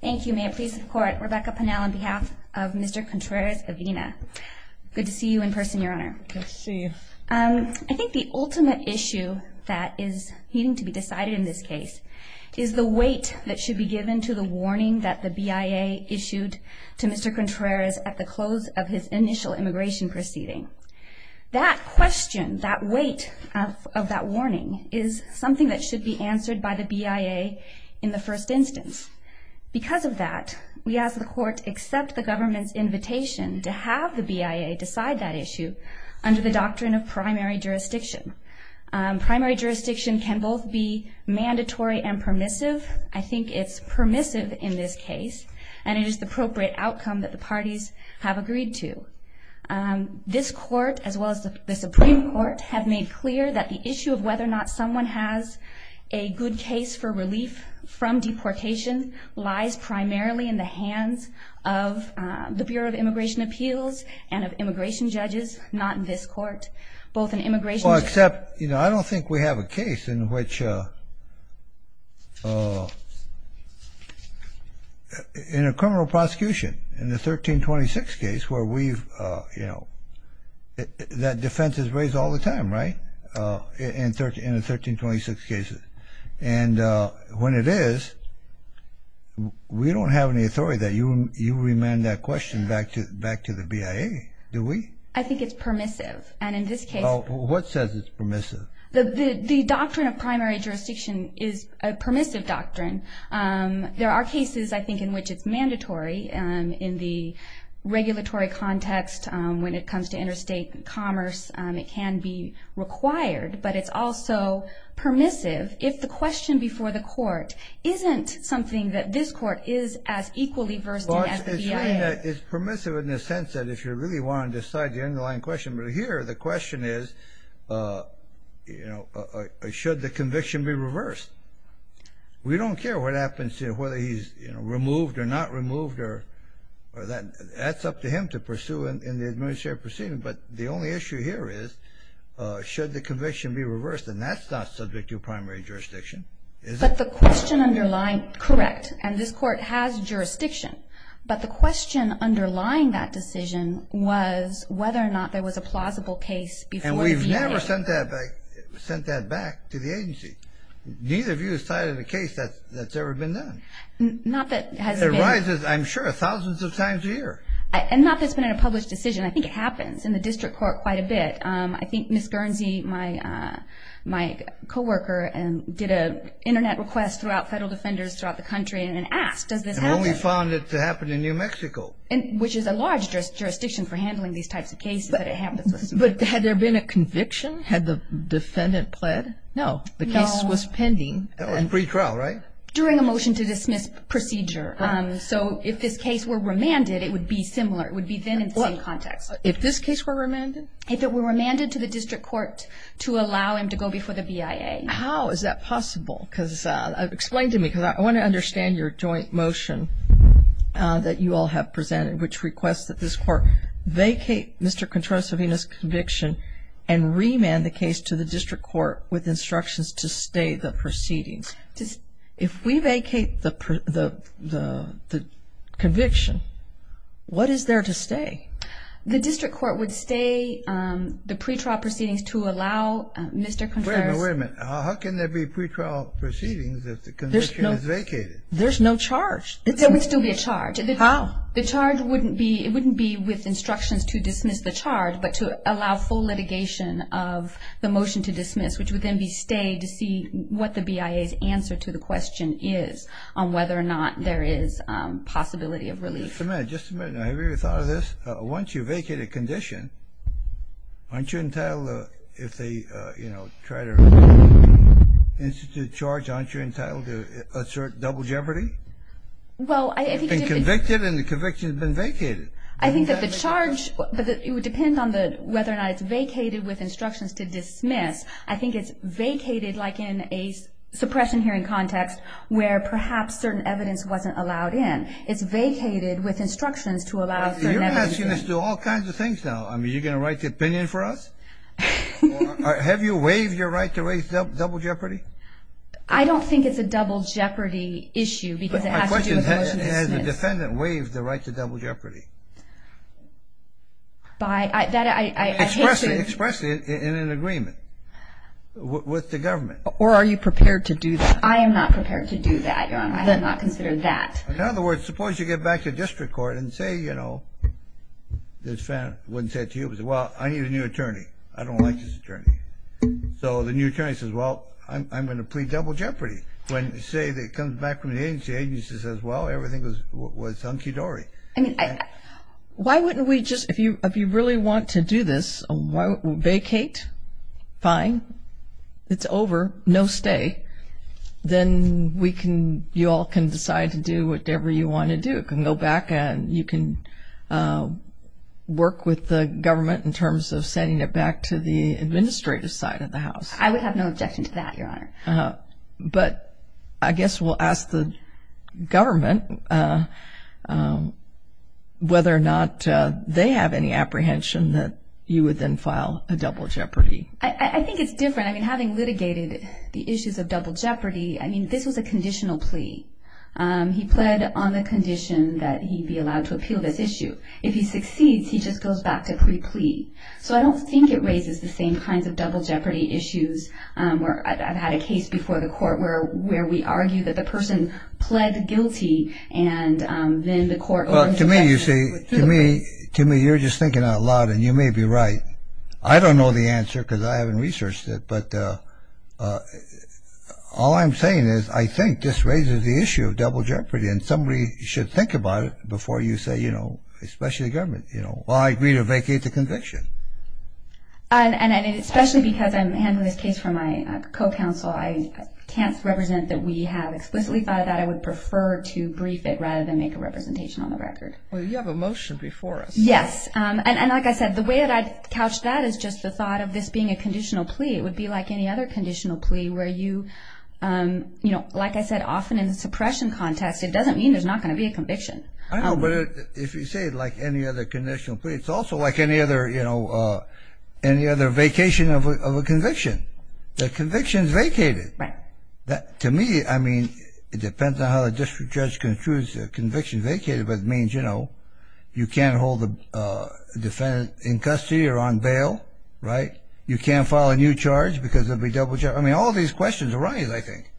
Thank you. May it please the court, Rebecca Pannell on behalf of Mr. Contreras-Avina. Good to see you in person, Your Honor. Good to see you. I think the ultimate issue that is needing to be decided in this case is the weight that should be given to the warning that the BIA issued to Mr. Contreras at the close of his initial immigration proceeding. That question, that weight of that warning, is something that should be answered by the BIA in the first instance. Because of that, we ask the court to accept the government's invitation to have the BIA decide that issue under the doctrine of primary jurisdiction. Primary jurisdiction can both be mandatory and permissive. I think it's permissive in this case, and it is the appropriate outcome that the parties have agreed to. This court, as well as the Supreme Court, have made clear that the issue of whether or not someone has a good case for relief from deportation lies primarily in the hands of the Bureau of Immigration Appeals and of immigration judges, not in this court. Well, except, you know, I don't think we have a case in which, in a criminal prosecution, in the 1326 case where we've, you know, that defense is raised all the time, right, in the 1326 cases. And when it is, we don't have any authority that you remand that question back to the BIA, do we? I think it's permissive, and in this case... Well, what says it's permissive? The doctrine of primary jurisdiction is a permissive doctrine. There are cases, I think, in which it's mandatory in the regulatory context when it comes to interstate commerce. It can be required, but it's also permissive if the question before the court isn't something that this court is as equally versed in as the BIA. It's permissive in the sense that if you really want to decide the underlying question, but here the question is, you know, should the conviction be reversed? We don't care what happens to whether he's, you know, removed or not removed, or that's up to him to pursue in the administrative proceeding, but the only issue here is should the conviction be reversed, and that's not subject to primary jurisdiction, is it? But the question underlying... Correct, and this court has jurisdiction, but the question underlying that decision was whether or not there was a plausible case before the BIA. And we've never sent that back to the agency. Neither of you has cited a case that's ever been done. Not that it has been... It arises, I'm sure, thousands of times a year. And not that it's been in a published decision. I think it happens in the district court quite a bit. I think Ms. Guernsey, my coworker, did an Internet request throughout federal defenders throughout the country and asked, does this happen? And we found it to happen in New Mexico. Which is a large jurisdiction for handling these types of cases, but it happens. But had there been a conviction? Had the defendant pled? No. No. The case was pending. In pretrial, right? During a motion to dismiss procedure. So if this case were remanded, it would be similar. It would be then in the same context. If this case were remanded? If it were remanded to the district court to allow him to go before the BIA. How is that possible? Explain to me, because I want to understand your joint motion that you all have presented, which requests that this court vacate Mr. Contreras-Savina's conviction and remand the case to the district court with instructions to stay the proceedings. If we vacate the conviction, what is there to stay? The district court would stay the pretrial proceedings to allow Mr. Contreras... Wait a minute. How can there be pretrial proceedings if the conviction is vacated? There's no charge. There would still be a charge. How? The charge wouldn't be with instructions to dismiss the charge, but to allow full litigation of the motion to dismiss, which would then be stayed to see what the BIA's answer to the question is on whether or not there is possibility of relief. Just a minute. Have you ever thought of this? Once you vacate a condition, aren't you entitled, if they, you know, try to institute a charge, aren't you entitled to assert double jeopardy? Well, I think... You've been convicted and the conviction has been vacated. I think that the charge, it would depend on whether or not it's vacated with instructions to dismiss. I think it's vacated like in a suppression hearing context where perhaps certain evidence wasn't allowed in. It's vacated with instructions to allow... You're asking us to do all kinds of things now. I mean, are you going to write the opinion for us? Have you waived your right to raise double jeopardy? I don't think it's a double jeopardy issue because it has to do with the motion to dismiss. My question is, has the defendant waived the right to double jeopardy? By... Express it in an agreement with the government. Or are you prepared to do that? I am not prepared to do that, Your Honor. I have not considered that. In other words, suppose you get back to district court and say, you know, the defendant wouldn't say it to you, but say, well, I need a new attorney. I don't like this attorney. So the new attorney says, well, I'm going to plead double jeopardy. When you say that it comes back from the agency, the agency says, well, everything was hunky-dory. I mean, why wouldn't we just... If you really want to do this, vacate? Fine. It's over. No stay. Then you all can decide to do whatever you want to do. You can go back and you can work with the government in terms of sending it back to the administrative side of the house. I would have no objection to that, Your Honor. But I guess we'll ask the government whether or not they have any apprehension that you would then file a double jeopardy. I think it's different. I mean, having litigated the issues of double jeopardy, I mean, this was a conditional plea. He pled on the condition that he be allowed to appeal this issue. If he succeeds, he just goes back to pre-plea. So I don't think it raises the same kinds of double jeopardy issues. I've had a case before the court where we argue that the person pled guilty and then the court... Well, to me, you see, to me, you're just thinking out loud, and you may be right. I don't know the answer because I haven't researched it. But all I'm saying is I think this raises the issue of double jeopardy, and somebody should think about it before you say, you know, especially the government, you know. Well, I agree to vacate the conviction. And especially because I'm handling this case for my co-counsel, I can't represent that we have explicitly thought about it. I would prefer to brief it rather than make a representation on the record. Well, you have a motion before us. Yes. And like I said, the way that I'd couch that is just the thought of this being a conditional plea. It would be like any other conditional plea where you, you know, like I said, often in the suppression context, it doesn't mean there's not going to be a conviction. I know, but if you say it like any other conditional plea, it's also like any other, you know, any other vacation of a conviction. The conviction's vacated. Right. To me, I mean, it depends on how the district judge construes the conviction vacated, but it means, you know, you can't hold the defendant in custody or on bail. Right. You can't file a new charge because there'll be double jeopardy. I mean, all these questions are right, I think.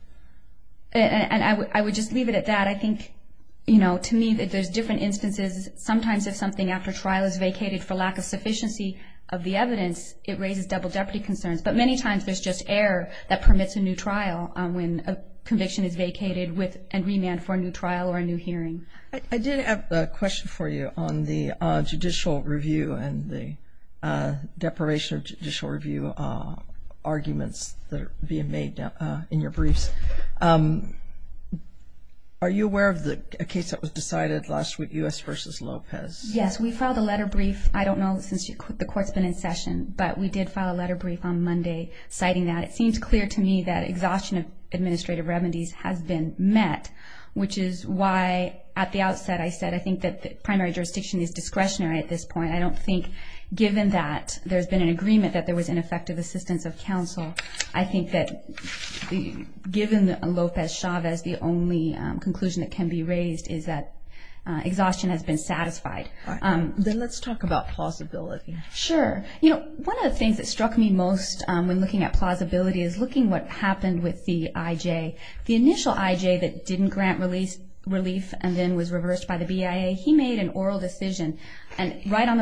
And I would just leave it at that. I think, you know, to me, there's different instances. Sometimes if something after trial is vacated for lack of sufficiency of the evidence, it raises double jeopardy concerns. But many times there's just error that permits a new trial when a conviction is vacated and remanded for a new trial or a new hearing. I did have a question for you on the judicial review and the deprivation of judicial review arguments that are being made in your briefs. Are you aware of a case that was decided last week, U.S. v. Lopez? Yes, we filed a letter brief. I don't know since the court's been in session, but we did file a letter brief on Monday citing that. It seems clear to me that exhaustion of administrative remedies has been met, which is why at the outset I said I think that the primary jurisdiction is discretionary at this point. I don't think given that there's been an agreement that there was ineffective assistance of counsel, I think that given Lopez-Chavez, the only conclusion that can be raised is that exhaustion has been satisfied. Then let's talk about plausibility. Sure. You know, one of the things that struck me most when looking at plausibility is looking at what happened with the IJ. The initial IJ that didn't grant relief and then was reversed by the BIA, he made an oral decision, and right on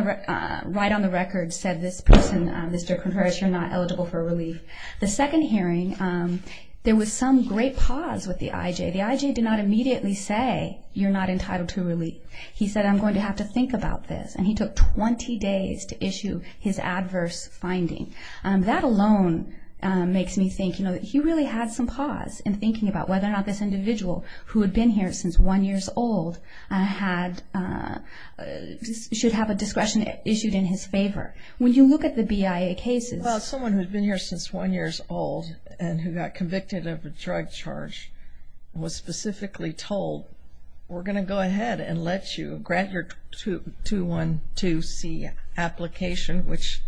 the record said, this person, Mr. Contreras, you're not eligible for relief. The second hearing, there was some great pause with the IJ. The IJ did not immediately say, you're not entitled to relief. He said, I'm going to have to think about this, and he took 20 days to issue his adverse finding. That alone makes me think, you know, that he really had some pause in thinking about whether or not this individual who had been here since one year old should have a discretion issued in his favor. When you look at the BIA cases. Well, someone who had been here since one year old and who got convicted of a drug charge was specifically told, we're going to go ahead and let you grant your 212C application, which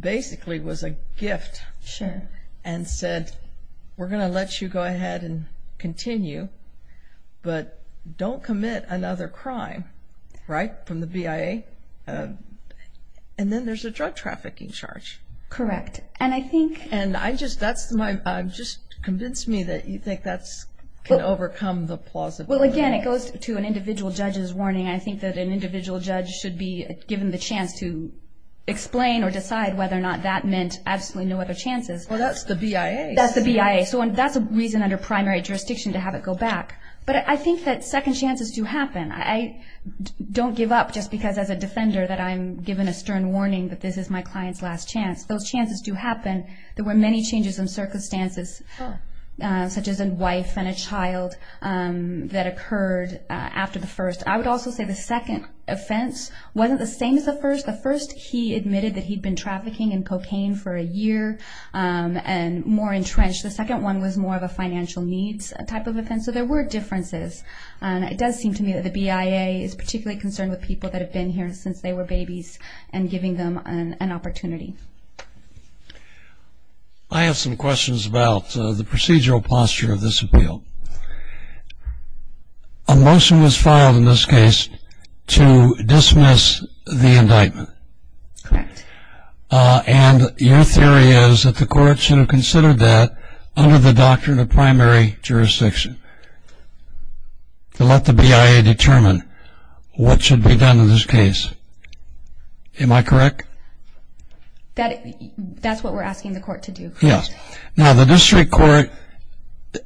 basically was a gift. Sure. And said, we're going to let you go ahead and continue, but don't commit another crime. Right? From the BIA. And then there's a drug trafficking charge. Correct. And just convince me that you think that can overcome the plausibility. Well, again, it goes to an individual judge's warning. I think that an individual judge should be given the chance to explain or decide whether or not that meant absolutely no other chances. Well, that's the BIA. That's the BIA. So that's a reason under primary jurisdiction to have it go back. But I think that second chances do happen. I don't give up just because as a defender that I'm given a stern warning that this is my client's last chance. Those chances do happen. There were many changes in circumstances such as a wife and a child that occurred after the first. I would also say the second offense wasn't the same as the first. The first, he admitted that he'd been trafficking in cocaine for a year and more entrenched. The second one was more of a financial needs type of offense. So there were differences. It does seem to me that the BIA is particularly concerned with people that have been here since they were babies and giving them an opportunity. I have some questions about the procedural posture of this appeal. A motion was filed in this case to dismiss the indictment. Correct. And your theory is that the court should have considered that under the doctrine of primary jurisdiction to let the BIA determine what should be done in this case. Am I correct? That's what we're asking the court to do. Yes. Now, the district court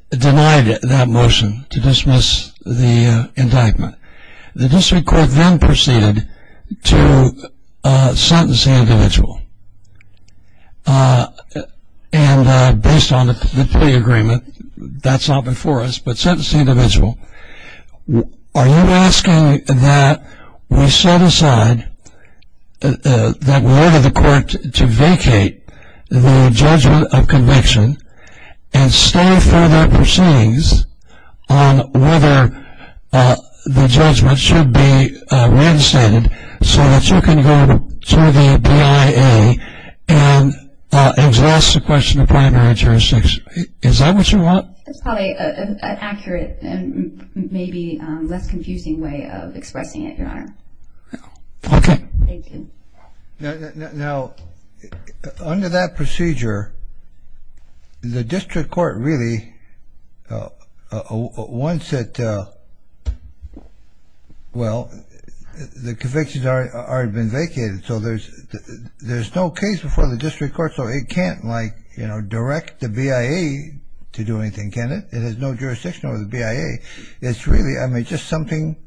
denied that motion to dismiss the indictment. The district court then proceeded to sentence the individual. And based on the plea agreement, that's not before us, but sentence the individual. Are you asking that we set aside, that we order the court to vacate the judgment of conviction and stay for their proceedings on whether the judgment should be reinstated so that you can go to the BIA and ask the question of primary jurisdiction? Is that what you want? That's probably an accurate and maybe less confusing way of expressing it, Your Honor. Okay. Thank you. Now, under that procedure, the district court really, once it, well, the convictions have already been vacated, so there's no case before the district court, so it can't, like, you know, direct the BIA to do anything, can it? It has no jurisdiction over the BIA. It's really, I mean, just something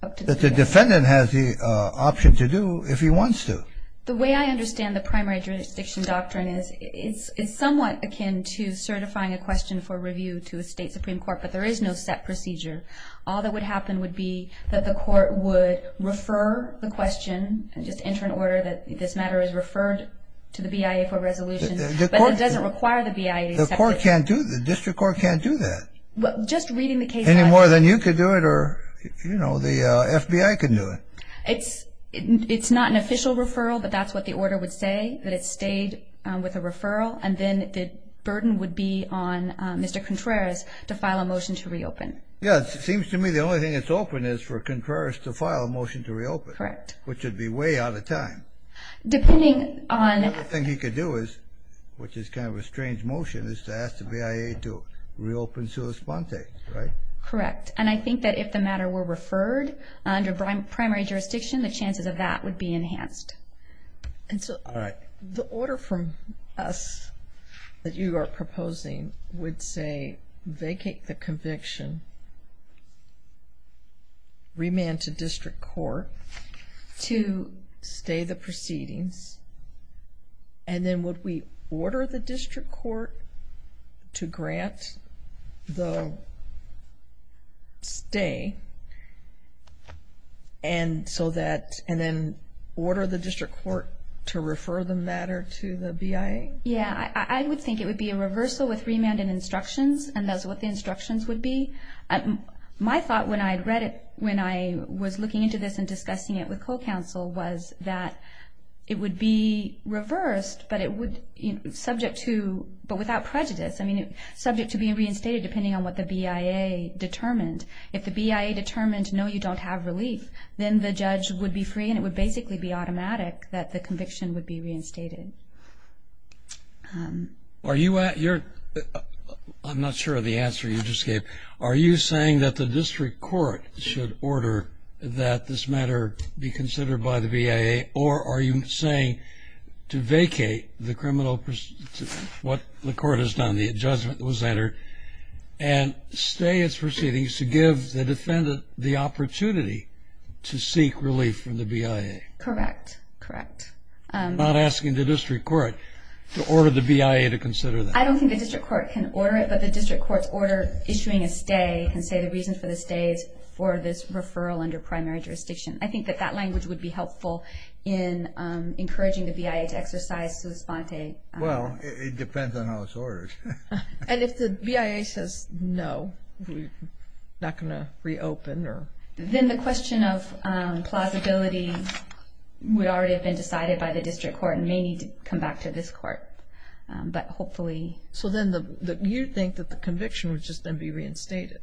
that the defendant has the option to do if he wants to. The way I understand the primary jurisdiction doctrine is, it's somewhat akin to certifying a question for review to a state supreme court, but there is no set procedure. All that would happen would be that the court would refer the question, just enter an order that this matter is referred to the BIA for resolution, but it doesn't require the BIA to accept it. The court can't do that. The district court can't do that. Well, just reading the case... Any more than you could do it or, you know, the FBI can do it. It's not an official referral, but that's what the order would say, that it stayed with a referral, and then the burden would be on Mr. Contreras to file a motion to reopen. Yes. It seems to me the only thing that's open is for Contreras to file a motion to reopen. Correct. Which would be way out of time. Depending on... The only thing he could do is, which is kind of a strange motion, is to ask the BIA to reopen sua sponte, right? Correct. And I think that if the matter were referred under primary jurisdiction, the chances of that would be enhanced. And so the order from us that you are proposing would say vacate the conviction, remand to district court to stay the proceedings, and then would we order the district court to grant the stay, and then order the district court to refer the matter to the BIA? Yeah. I would think it would be a reversal with remand and instructions, and that's what the instructions would be. My thought when I read it, when I was looking into this and discussing it with co-counsel was that it would be reversed, but it would subject to, but without prejudice, I mean subject to being reinstated depending on what the BIA determined. If the BIA determined, no, you don't have relief, then the judge would be free and it would basically be automatic that the conviction would be reinstated. I'm not sure of the answer you just gave. Are you saying that the district court should order that this matter be considered by the BIA, or are you saying to vacate what the court has done, the adjustment that was entered, and stay its proceedings to give the defendant the opportunity to seek relief from the BIA? Correct, correct. I'm not asking the district court to order the BIA to consider that. I don't think the district court can order it, but the district court's order issuing a stay can say the reason for the stay is for this referral under primary jurisdiction. I think that that language would be helpful in encouraging the BIA to exercise sua sponte. Well, it depends on how it's ordered. And if the BIA says no, not going to reopen? Then the question of plausibility would already have been decided by the district court and may need to come back to this court, but hopefully. So then you think that the conviction would just then be reinstated?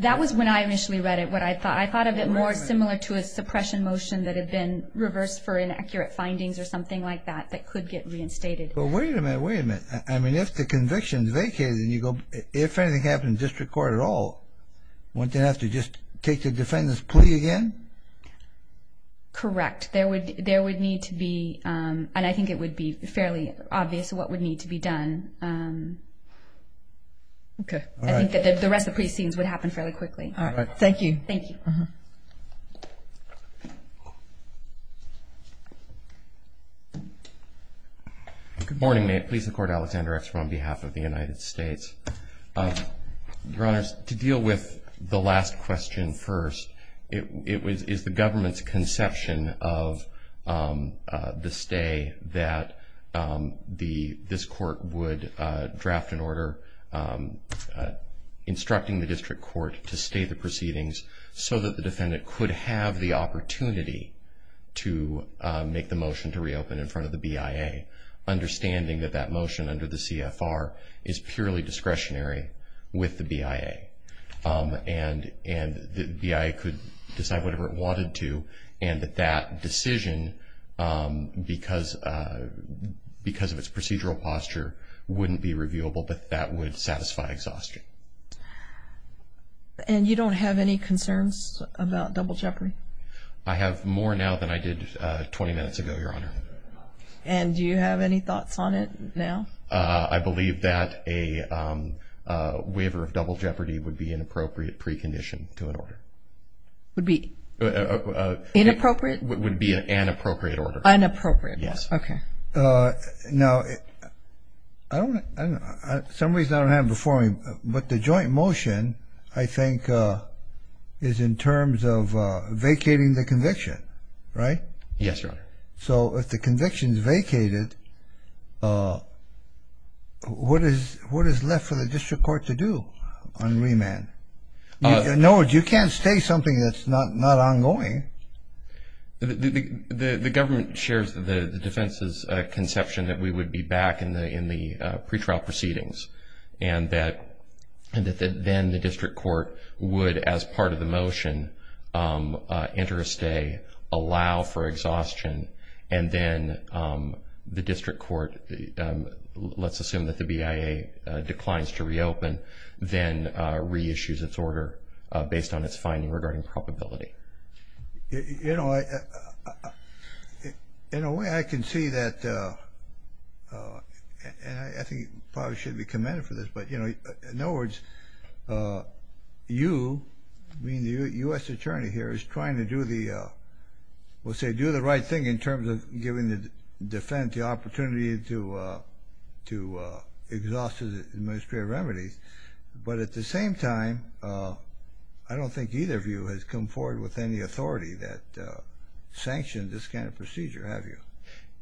That was when I initially read it, what I thought. I thought of it more similar to a suppression motion that had been reversed for inaccurate findings or something like that that could get reinstated. Well, wait a minute, wait a minute. I mean, if the conviction's vacated and you go, if anything happens in the district court at all, wouldn't they have to just take the defendant's plea again? Correct. There would need to be, and I think it would be fairly obvious what would need to be done. Okay. I think that the rest of the precincts would happen fairly quickly. All right. Thank you. Thank you. Good morning. May it please the Court, Alexander Eckstrom on behalf of the United States. Your Honors, to deal with the last question first, is the government's conception of the stay that this court would draft an order instructing the district court to stay the proceedings so that the defendant could have the opportunity to make the motion to reopen in front of the BIA, understanding that that motion under the CFR is purely discretionary with the BIA and the BIA could decide whatever it wanted to and that that decision, because of its procedural posture, wouldn't be reviewable, but that would satisfy exhaustion. And you don't have any concerns about double jeopardy? I have more now than I did 20 minutes ago, Your Honor. And do you have any thoughts on it now? I believe that a waiver of double jeopardy would be an appropriate precondition to an order. Would be inappropriate? Would be an inappropriate order. Inappropriate. Yes. Okay. Now, some reason I don't have it before me, but the joint motion I think is in terms of vacating the conviction, right? Yes, Your Honor. So if the conviction is vacated, what is left for the district court to do on remand? In other words, you can't stay something that's not ongoing. The government shares the defense's conception that we would be back in the pretrial proceedings and that then the district court would, as part of the motion, enter a stay, allow for exhaustion, and then the district court, let's assume that the BIA declines to reopen, then reissues its order based on its finding regarding probability. You know, in a way I can see that, and I think probably should be commended for this, but, you know, in other words, you, being the U.S. attorney here, is trying to do the, we'll say do the right thing in terms of giving the defense the opportunity to exhaust administrative remedies. But at the same time, I don't think either of you has come forward with any authority that sanctioned this kind of procedure, have you?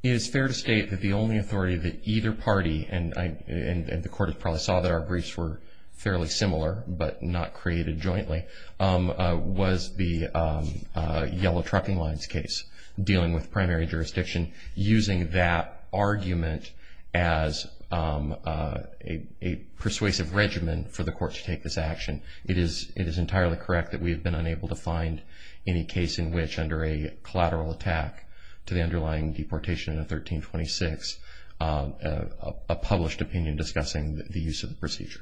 It is fair to state that the only authority that either party, and the court probably saw that our briefs were fairly similar but not created jointly, was the yellow trucking lines case, dealing with primary jurisdiction, using that argument as a persuasive regimen for the court to take this action. It is entirely correct that we have been unable to find any case in which, under a collateral attack to the underlying deportation in 1326, a published opinion discussing the use of the procedure.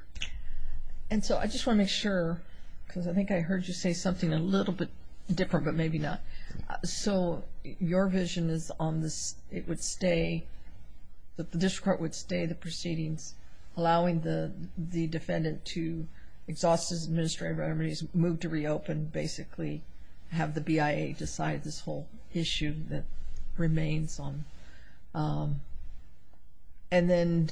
And so I just want to make sure, because I think I heard you say something a little bit different, but maybe not. So your vision is on this, it would stay, that the district court would stay the proceedings, allowing the defendant to exhaust his administrative remedies, move to reopen, basically have the BIA decide this whole issue that remains on. And then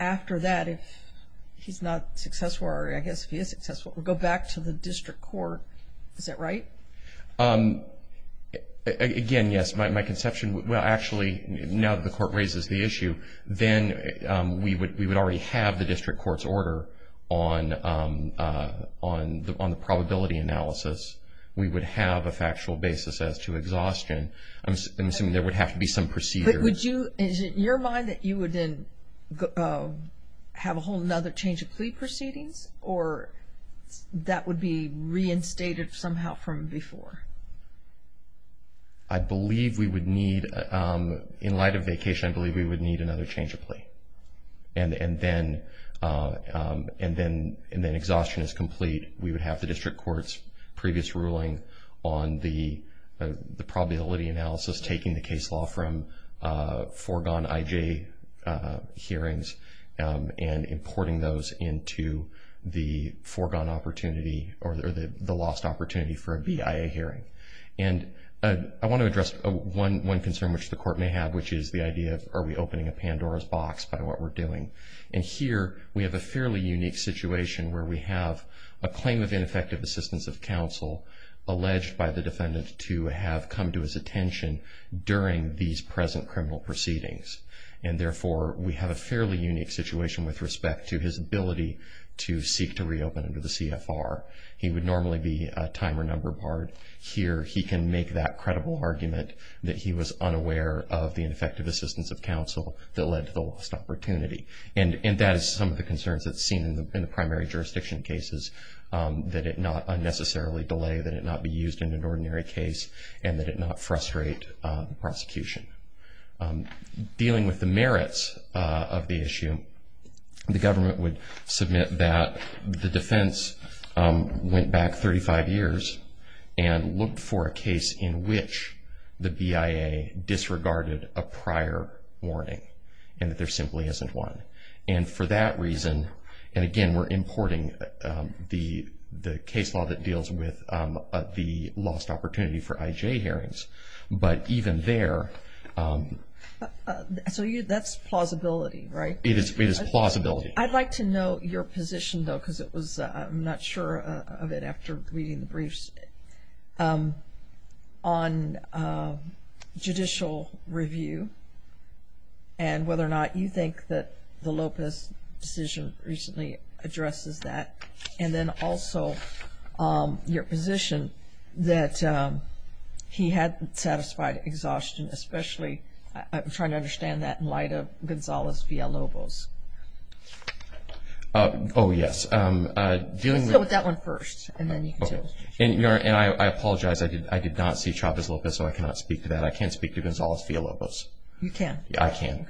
after that, if he's not successful, or I guess if he is successful, go back to the district court, is that right? Again, yes. My conception, well, actually, now that the court raises the issue, then we would already have the district court's order on the probability analysis. We would have a factual basis as to exhaustion. I'm assuming there would have to be some procedure. Would you, is it in your mind that you would then have a whole other change of plea proceedings, or that would be reinstated somehow from before? I believe we would need, in light of vacation, I believe we would need another change of plea. And then exhaustion is complete. We would have the district court's previous ruling on the probability analysis, taking the case law from foregone IJ hearings and importing those into the foregone opportunity or the lost opportunity for a BIA hearing. And I want to address one concern which the court may have, which is the idea of are we opening a Pandora's box by what we're doing. And here we have a fairly unique situation where we have a claim of ineffective assistance of counsel alleged by the defendant to have come to his attention during these present criminal proceedings. And therefore, we have a fairly unique situation with respect to his ability to seek to reopen under the CFR. He would normally be a time or number barred. Here he can make that credible argument that he was unaware of the ineffective assistance of counsel that led to the lost opportunity. And that is some of the concerns that's seen in the primary jurisdiction cases, that it not unnecessarily delay, that it not be used in an ordinary case, and that it not frustrate prosecution. Dealing with the merits of the issue, the government would submit that the defense went back 35 years and looked for a case in which the BIA disregarded a prior warning and that there simply isn't one. And for that reason, and again, we're importing the case law that deals with the lost opportunity for IJ hearings. But even there... So that's plausibility, right? It is plausibility. I'd like to know your position, though, because I'm not sure of it after reading the briefs, on judicial review and whether or not you think that the Lopez decision recently addresses that. And then also your position that he had satisfied exhaustion, especially I'm trying to understand that in light of Gonzales v. Alobos. Oh, yes. Let's go with that one first, and then you can tell us your position. And I apologize, I did not see Chavez-Lopez, so I cannot speak to that. I can speak to Gonzales v. Alobos. You can? I can.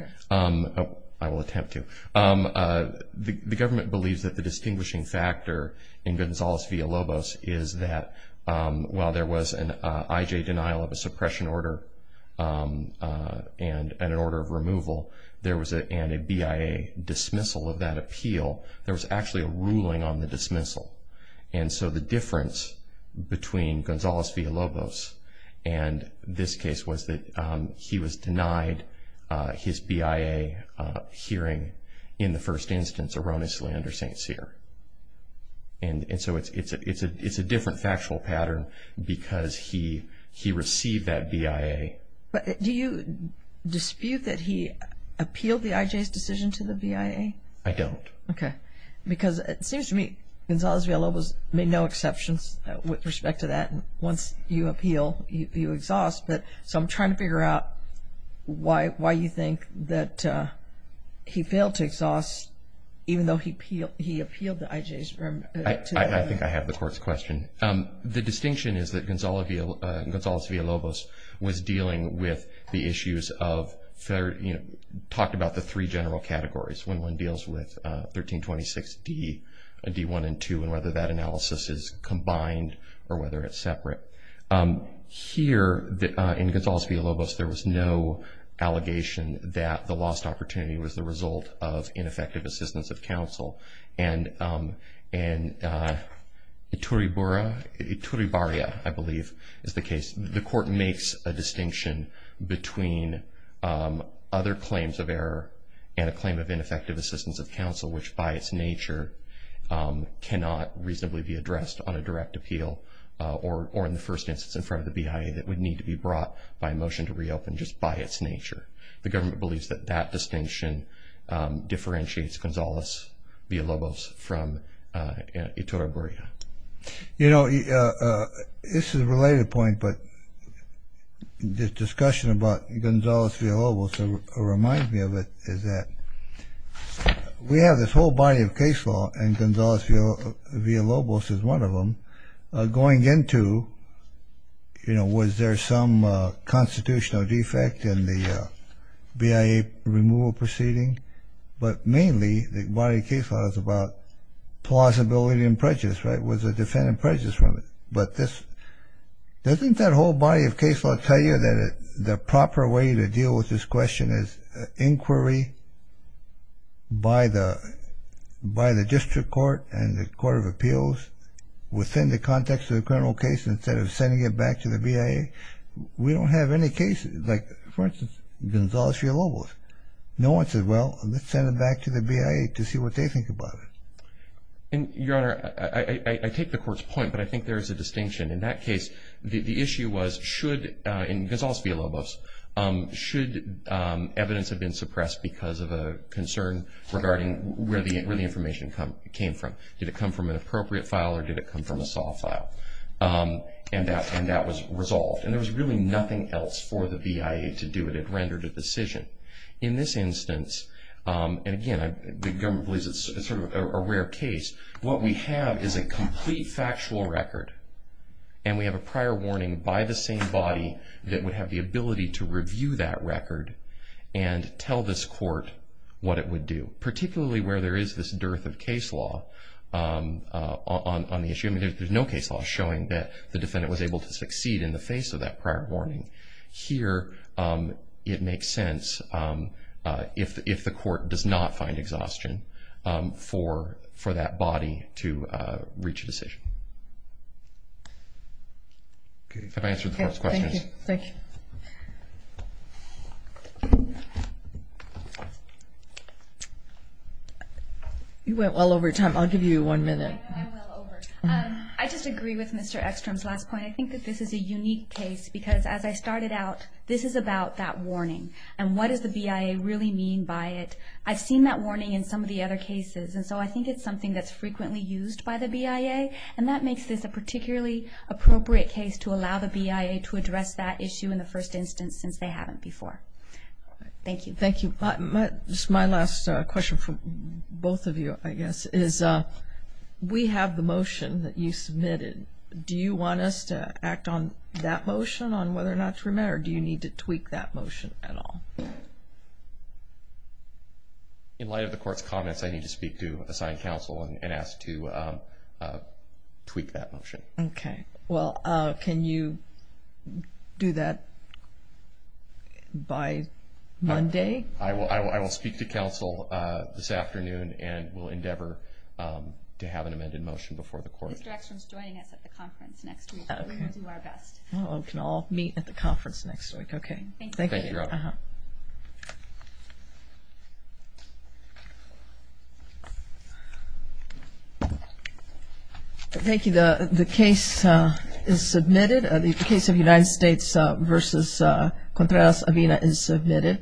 I will attempt to. The government believes that the distinguishing factor in Gonzales v. Alobos is that while there was an IJ denial of a suppression order and an order of removal, and a BIA dismissal of that appeal, there was actually a ruling on the dismissal. And so the difference between Gonzales v. Alobos and this case was that he was denied his BIA hearing in the first instance erroneously under St. Cyr. And so it's a different factual pattern because he received that BIA. But do you dispute that he appealed the IJ's decision to the BIA? I don't. Okay. Because it seems to me Gonzales v. Alobos made no exceptions with respect to that. Once you appeal, you exhaust. So I'm trying to figure out why you think that he failed to exhaust, even though he appealed the IJ's to the BIA. I think I have the court's question. The distinction is that Gonzales v. Alobos was dealing with the issues of, talked about the three general categories, when one deals with 1326D, D1 and 2, and whether that analysis is combined or whether it's separate. Here, in Gonzales v. Alobos, there was no allegation that the lost opportunity was the result of ineffective assistance of counsel. And Iturribarria, I believe, is the case. The court makes a distinction between other claims of error and a claim of ineffective assistance of counsel, which by its nature cannot reasonably be addressed on a direct appeal or in the first instance in front of the BIA that would need to be brought by motion to reopen just by its nature. The government believes that that distinction differentiates Gonzales v. Alobos from Iturribarria. You know, this is a related point, but this discussion about Gonzales v. Alobos reminds me of it, is that we have this whole body of case law, and Gonzales v. Alobos is one of them, going into, you know, was there some constitutional defect in the BIA removal proceeding? But mainly, the body of case law is about plausibility and prejudice, right? Was the defendant prejudiced from it? But doesn't that whole body of case law tell you that the proper way to deal with this question is inquiry by the district court and the court of appeals within the context of the criminal case instead of sending it back to the BIA? We don't have any cases like, for instance, Gonzales v. Alobos. No one says, well, let's send it back to the BIA to see what they think about it. And, Your Honor, I take the court's point, but I think there is a distinction. In that case, the issue was should, in Gonzales v. Alobos, should evidence have been suppressed because of a concern regarding where the information came from? Did it come from an appropriate file or did it come from a soft file? And that was resolved. And there was really nothing else for the BIA to do. It had rendered a decision. In this instance, and again, the government believes it's sort of a rare case, what we have is a complete factual record, and we have a prior warning by the same body that would have the ability to review that record and tell this court what it would do, particularly where there is this dearth of case law on the issue. I mean, there's no case law showing that the defendant was able to succeed in the face of that prior warning. Here, it makes sense if the court does not find exhaustion for that body to reach a decision. Can I answer the first question? Thank you. You went well over time. I'll give you one minute. I just agree with Mr. Eckstrom's last point. I think that this is a unique case because, as I started out, this is about that warning, and what does the BIA really mean by it. I've seen that warning in some of the other cases, and so I think it's something that's frequently used by the BIA, and that makes this a particularly appropriate case to allow the BIA to address that issue in the first instance since they haven't before. Thank you. Thank you. Just my last question for both of you, I guess, is we have the motion that you submitted. Do you want us to act on that motion on whether or not to remit, or do you need to tweak that motion at all? In light of the Court's comments, I need to speak to assigned counsel and ask to tweak that motion. Okay. Well, can you do that by Monday? I will speak to counsel this afternoon and will endeavor to have an amended motion before the Court. Mr. Eckstrom is joining us at the conference next week. We will do our best. We can all meet at the conference next week. Okay. Thank you. Thank you, Your Honor. Thank you. The case is submitted. The case of United States v. Contreras-Avina is submitted.